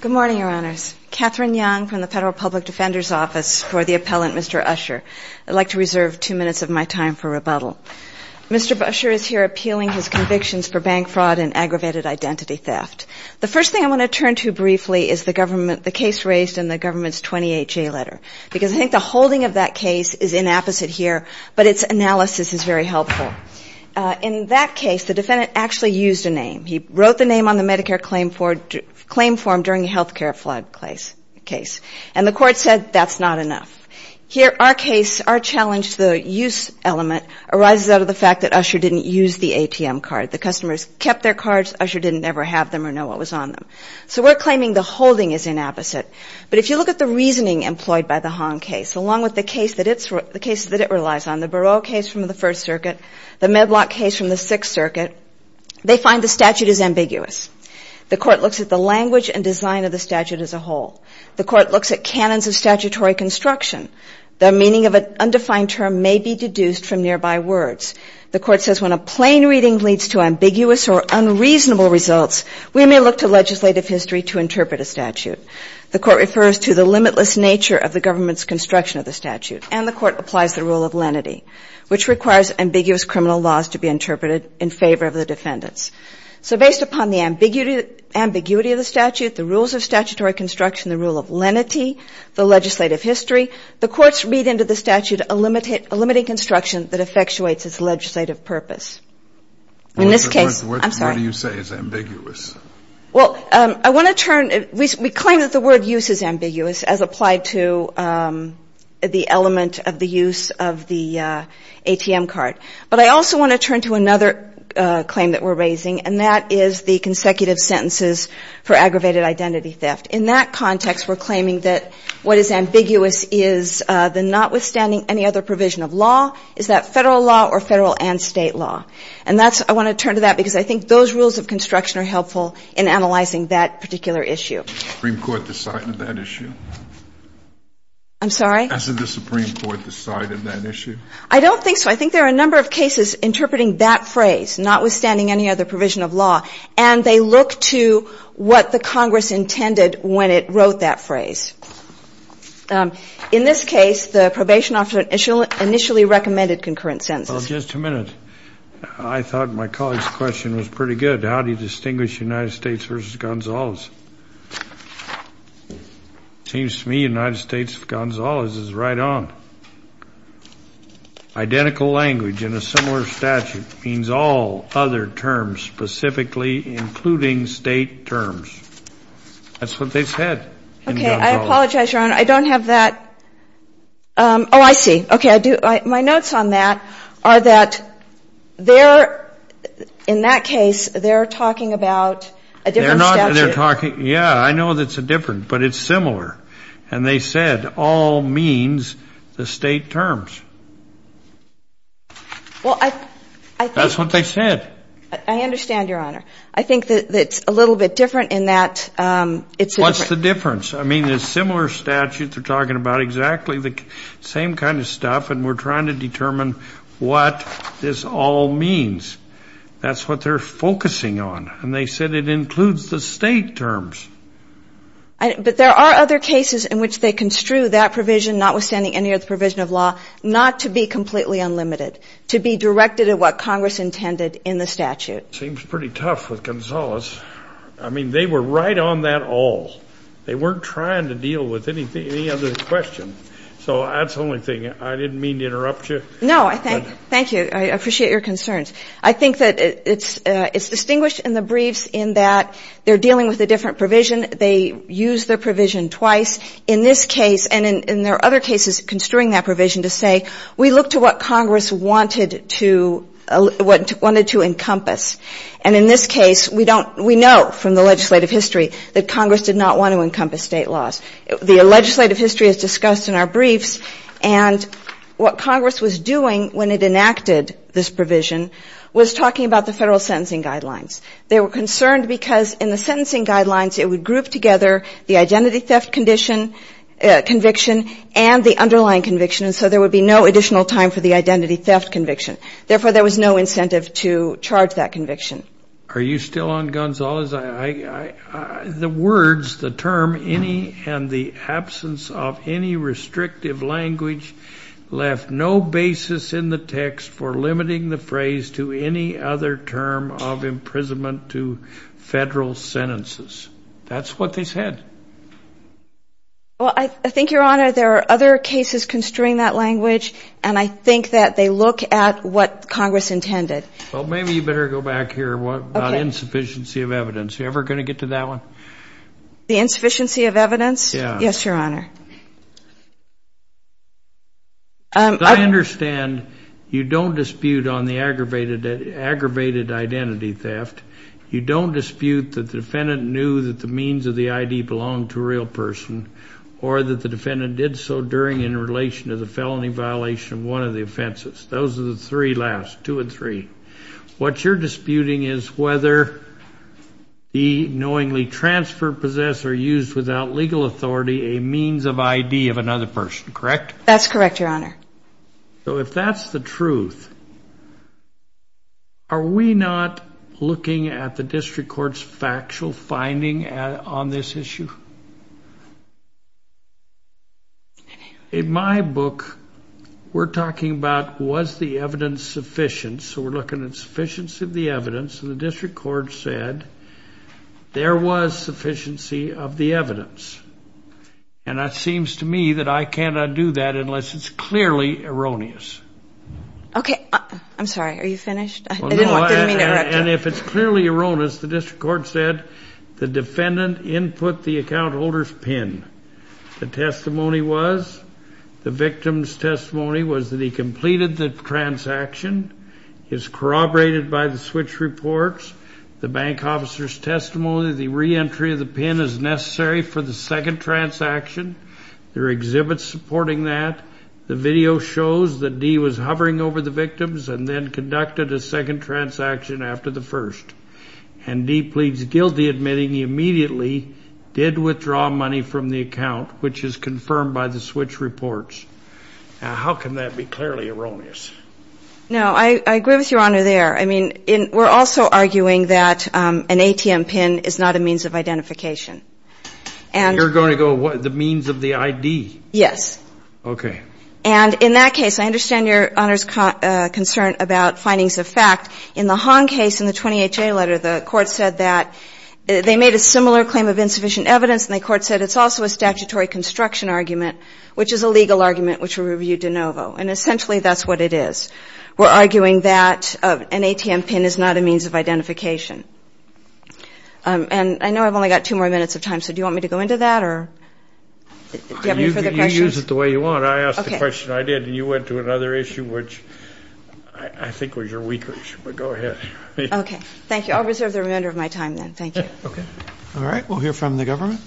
Good morning, Your Honors. Katherine Young from the Federal Public Defender's Office for the Appellant, Mr. Usher. I'd like to reserve two minutes of my time for rebuttal. Mr. Usher is here appealing his convictions for bank fraud and aggravated identity theft. The first thing I want to turn to briefly is the case raised in the government's 28-J letter, because I think the holding of that case is inapposite here, but its analysis is very helpful. In that case, the defendant actually used a name. He wrote the name on the Medicare claim form during the health care flood case, and the court said that's not enough. Here, our case, our challenge, the use element arises out of the fact that Usher didn't use the ATM card. The customers kept their cards. Usher didn't ever have them or know what was on them. So we're claiming the holding is inapposite. But if you look at the reasoning employed by the Hong case, along with the case that it relies on, the Barot case from the First Circuit, the Medlock case from the Sixth Circuit, they find the statute is ambiguous. The court looks at the language and design of the statute as a whole. The court looks at canons of statutory construction. The meaning of an undefined term may be deduced from nearby words. The court says when a plain reading leads to ambiguous or unreasonable results, we may look to legislative history to interpret a statute. The court refers to the limitless nature of the government's construction of the statute, and the court applies the rule of lenity, which requires ambiguous criminal laws to be interpreted in favor of the defendants. So based upon the ambiguity of the statute, the rules of statutory construction, the rule of lenity, the legislative history, the courts read into the statute a limiting construction that effectuates its legislative purpose. In this case, I'm sorry. What do you say is ambiguous? Well, I want to turn, we claim that the word use is ambiguous as applied to the element of the use of the ATM card. But I also want to turn to another claim that we're raising, and that is the consecutive sentences for aggravated identity theft. In that context, we're claiming that what is ambiguous is the notwithstanding any other provision of law, is that Federal law or Federal and State law. And that's, I want to turn to that because I think it's helpful in analyzing that particular issue. The Supreme Court decided that issue? I'm sorry? Hasn't the Supreme Court decided that issue? I don't think so. I think there are a number of cases interpreting that phrase, notwithstanding any other provision of law, and they look to what the Congress intended when it wrote that phrase. In this case, the probation officer initially recommended concurrent sentences. Well, just a minute. I thought my colleague's question was pretty good. How do you distinguish United States v. Gonzalez? It seems to me United States v. Gonzalez is right on. Identical language in a similar statute means all other terms, specifically including State terms. That's what they said in Gonzalez. Okay. I apologize, Your Honor. I don't have that. Oh, I see. Okay. I do. My notes on that are that they're, in that case, they're talking about a different statute. They're talking, yeah, I know it's different, but it's similar. And they said all means the State terms. Well, I think... That's what they said. I understand, Your Honor. I think that it's a little bit different in that it's... What's the difference? I mean, there's similar statutes. They're talking about exactly the same kind of stuff, and we're trying to determine what this all means. That's what they're focusing on. And they said it includes the State terms. But there are other cases in which they construe that provision, notwithstanding any other provision of law, not to be completely unlimited, to be directed at what Congress intended in the statute. Seems pretty tough with Gonzalez. I mean, they were right on that all. They weren't trying to deal with any other question. So that's the only thing. I didn't mean to interrupt you. No. Thank you. I appreciate your concerns. I think that it's distinguished in the briefs in that they're dealing with a different provision. They use their provision twice. In this case, and there are other cases construing that provision to say, we look to what Congress wanted to encompass. And in this case, we know from the legislative history that Congress did not want to encompass State laws. The legislative history is discussed in our briefs. And what Congress was doing when it enacted this provision was talking about the federal sentencing guidelines. They were concerned because in the sentencing guidelines, it would group together the identity theft conviction and the underlying conviction. And so there would be no additional time for the identity theft conviction. Therefore, there was no incentive to charge that conviction. Are you still on, Gonzalez? The words, the term, any and the absence of any restrictive language left no basis in the text for limiting the phrase to any other term of imprisonment to federal sentences. That's what they said. Well, I think, Your Honor, there are other cases construing that language. And I think that they look at what Congress intended. Well, maybe you better go back here about insufficiency of evidence. Are you ever going to get to that one? The insufficiency of evidence? Yes, Your Honor. I understand you don't dispute on the aggravated identity theft. You don't dispute that the defendant knew that the means of the ID belonged to a real person or that the defendant did so during in relation to the felony violation of one of the offenses. Those are the three last, two and three. What you're disputing is whether he knowingly transferred, possessed, or used without legal authority a means of ID of another person, correct? That's correct, Your Honor. So if that's the truth, are we not looking at the district court's factual finding on this issue? In my book, we're talking about was the evidence sufficient. So we're looking at sufficiency of the evidence. And the district court said there was sufficiency of the evidence. And it seems to me that I cannot do that unless it's clearly erroneous. Okay. I'm sorry. Are you finished? Well, no. And if it's clearly erroneous, the district court said the defendant input the account holder's PIN. The testimony was the victim's testimony was that he completed the transaction. He was corroborated by the switch reports, the bank officer's testimony, the reentry of the PIN is necessary for the second transaction. There are exhibits supporting that. The video shows that Dee was hovering over the victims and then conducted a second transaction after the first. And Dee pleads guilty admitting he immediately did withdraw money from the account, which is confirmed by the switch reports. Now, how can that be clearly erroneous? No, I agree with Your Honor there. I mean, we're also arguing that an ATM PIN is not a means of identification. And you're going to go with the means of the ID? Yes. Okay. And in that case, I understand Your Honor's concern about findings of fact. In the Hong case in the 20HA letter, the court said that they made a similar claim of insufficient evidence, and the court said it's also a statutory construction argument, which is a legal argument which we reviewed de novo. And essentially, that's what it is. We're arguing that an ATM PIN is not a means of identification. And I know I've only got two more minutes of time, so do you want me to go into that or do you have any further questions? Use it the way you want. I asked the question I did, and you went to another issue, which I think was your weaker issue, but go ahead. Okay. Thank you. I'll reserve the remainder of my time then. Thank you. Okay. All right. We'll hear from the government.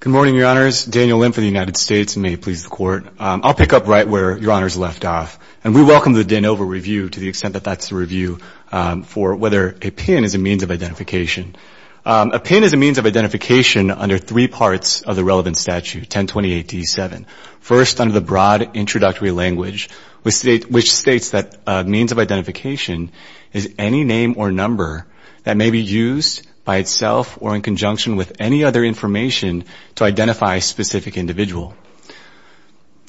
Good morning, Your Honors. Daniel Lim from the United States, and may it please the Court. I'll pick up right where Your Honors left off. And we welcome the de novo review to the extent that that's the review for whether a PIN is a means of identification. A PIN is a means of identification under three parts of the relevant statute, 1028-D7. First, under the broad introductory language, which states that a means of identification is any name or number that may be used by itself or in conjunction with any other information to identify a specific individual.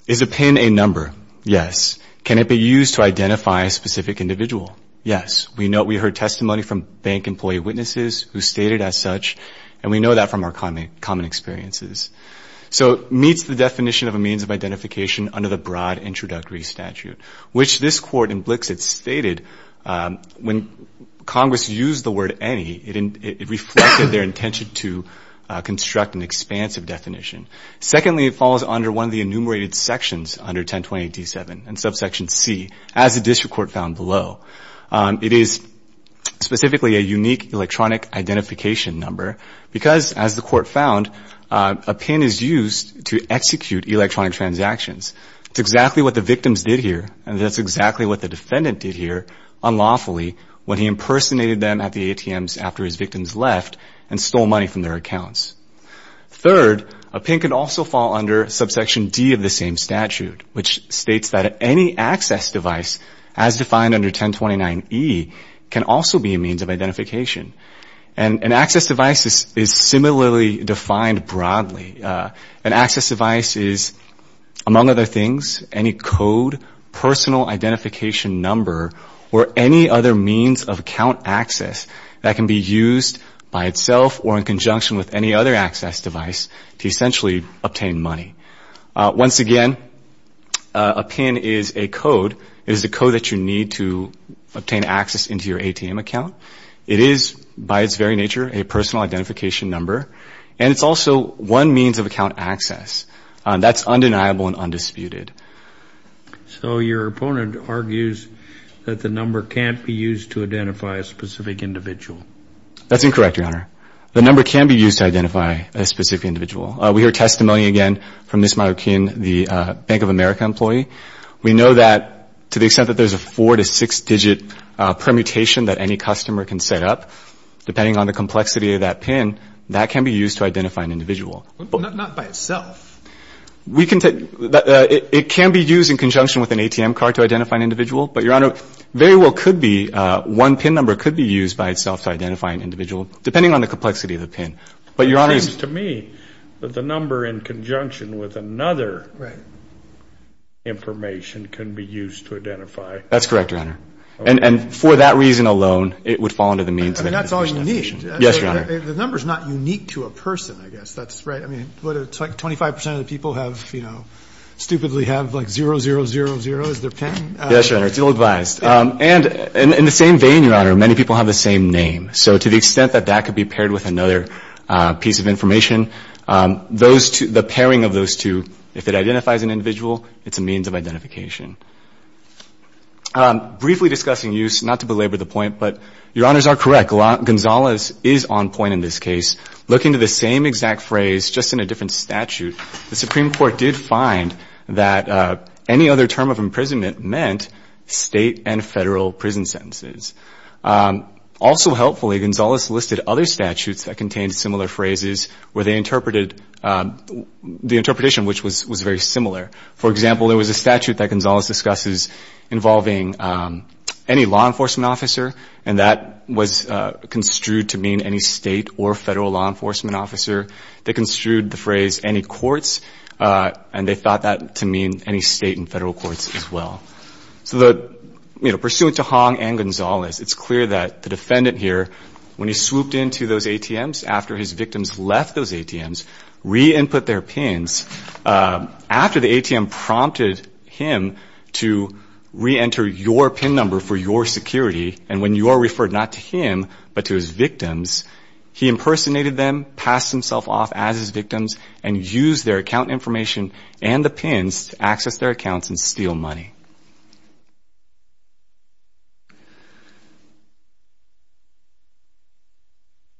Is a PIN a number? Yes. Can it be used to identify a specific individual? Yes. We know we heard testimony from bank employee witnesses who stated as such, and we know that from our common experiences. So it meets the definition of a means of identification under the broad introductory statute, which this Court in Blixit stated when Congress used the word any, it reflected their intention to construct an expansive definition. Secondly, it falls under one of the enumerated sections under 1028-D7, and subsection C, as the District Court found below. It is specifically a unique electronic identification number because, as the Court found, a PIN is used to execute electronic transactions. It's exactly what the victims did here, and that's exactly what the defendant did here unlawfully when he impersonated them at the ATMs after his victims left and stole money from their accounts. Third, a PIN can also fall under subsection D of the same statute, which states that any access device, as defined under 1029-E, can also be a means of identification. An access device is similarly defined broadly. An access device is, among other things, any code, personal identification number, or any other means of account access that can be obtained by itself or in conjunction with any other access device to essentially obtain money. Once again, a PIN is a code. It is a code that you need to obtain access into your ATM account. It is, by its very nature, a personal identification number, and it's also one means of account access. That's undeniable and undisputed. So your opponent argues that the number can't be used to identify a specific individual. That's incorrect, Your Honor. The number can be used to identify a specific individual. We hear testimony again from Ms. Marroquin, the Bank of America employee. We know that, to the extent that there's a four- to six-digit permutation that any customer can set up, depending on the complexity of that PIN, that can be used to identify an individual. But not by itself. We can take — it can be used in conjunction with an ATM card to identify an individual, but, Your Honor, very well could be — one PIN number could be used by itself to identify an individual, depending on the complexity of the PIN. But, Your Honor — It seems to me that the number in conjunction with another information can be used to identify — That's correct, Your Honor. And for that reason alone, it would fall under the means of — I mean, that's all you need. Yes, Your Honor. The number's not unique to a person, I guess. That's right. I mean, what, it's like 25 percent of the people have, you know — stupidly have, like, zero, zero, zero, zero as their PIN? Yes, Your Honor. It's ill-advised. And in the same vein, Your Honor, many people have the same name. So to the extent that that could be paired with another piece of information, those two — the pairing of those two, if it identifies an individual, it's a means of identification. Briefly discussing use, not to belabor the point, but Your Honors are correct. Gonzalez is on point in this case. Looking to the same exact phrase, just in a different statute, the Supreme Court did find that any other term of imprisonment meant state and federal prison sentences. Also helpfully, Gonzalez listed other statutes that contained similar phrases where they interpreted — the interpretation, which was very similar. For example, there was a statute that Gonzalez discusses involving any law enforcement officer, and that was construed to mean any state or federal law enforcement officer. They construed the phrase any courts, and they thought that to mean any state and federal courts as well. So the — you know, pursuant to Hong and Gonzalez, it's clear that the defendant here, when he swooped into those ATMs, after his victims left those ATMs, re-input their PINs. After the ATM prompted him to re-enter your PIN number for your security, and when your referred not to him, but to his victims, he impersonated them, passed himself off as his victims, and used their account information and the PINs to access their accounts and steal money.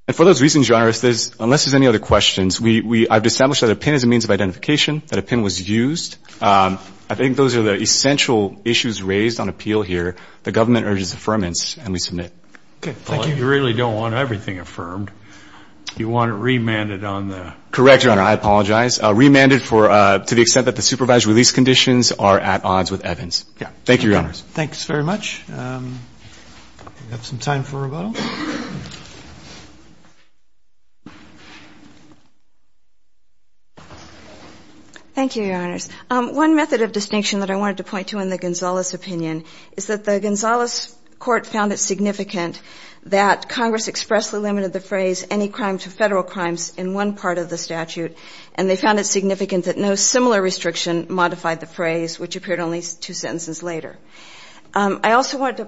And for those reasons, Your Honors, there's — unless there's any other questions, we — I've established that a PIN is a means of identification, that a PIN was used. I think those are the essential issues raised on appeal here. The government urges affirmance, and we submit. Okay. Thank you. You really don't want everything affirmed. You want it remanded on the — Correct, Your Honor. I apologize. Remanded for — to the extent that the supervised release conditions are at odds with Evans. Yeah. Thank you, Your Honors. Thanks very much. We have some time for rebuttal. Thank you, Your Honors. One method of distinction that I wanted to point to in the Gonzalez opinion is that the Gonzalez Court found it significant that Congress expressly limited the phrase any crime to federal crimes in one part of the statute, and they found it significant that no similar restriction modified the phrase, which appeared only two sentences later. I also wanted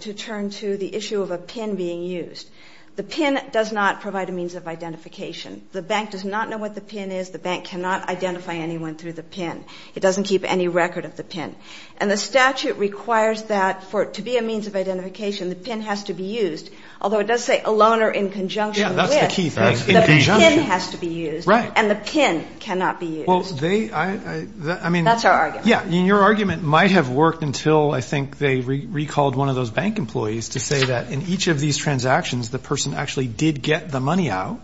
to turn to the issue of a PIN being used. The PIN does not provide a means of identification. The bank does not know what the PIN is. The bank cannot identify anyone through the PIN. It doesn't keep any record of the PIN. And the statute requires that for it to be a means of identification, the PIN has to be used, although it does say a loaner in conjunction with — Yeah, that's the key thing. That's in conjunction. The PIN has to be used. Right. And the PIN cannot be used. Well, they — I mean — That's our argument. Yeah. And your argument might have worked until, I think, they recalled one of those bank employees to say that in each of these transactions, the person actually did get the out,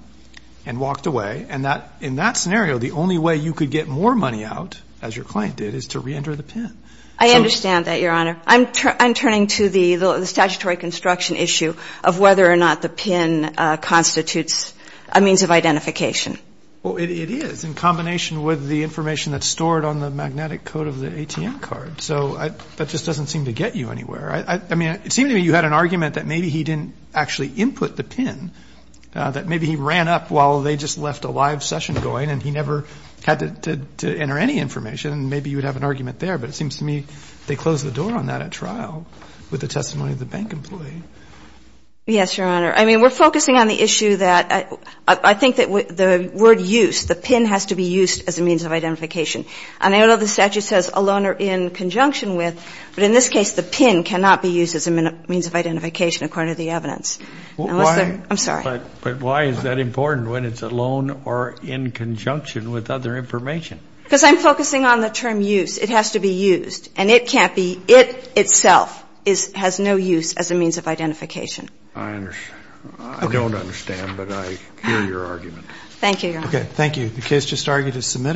as your client did, is to reenter the PIN. I understand that, Your Honor. I'm turning to the statutory construction issue of whether or not the PIN constitutes a means of identification. Well, it is, in combination with the information that's stored on the magnetic code of the ATM card. So that just doesn't seem to get you anywhere. I mean, it seemed to me you had an argument that maybe he didn't actually input the PIN, that maybe ran up while they just left a live session going, and he never had to enter any information. And maybe you would have an argument there. But it seems to me they closed the door on that at trial with the testimony of the bank employee. Yes, Your Honor. I mean, we're focusing on the issue that — I think that the word use, the PIN has to be used as a means of identification. And I know the statute says a loaner in conjunction with, but in this case, the PIN cannot be used as a means of identification, according to the evidence. Well, why — I'm sorry. But why is that important when it's a loan or in conjunction with other information? Because I'm focusing on the term use. It has to be used. And it can't be — it itself is — has no use as a means of identification. I don't understand, but I hear your argument. Thank you, Your Honor. Okay. Thank you. The case just argued is submitted.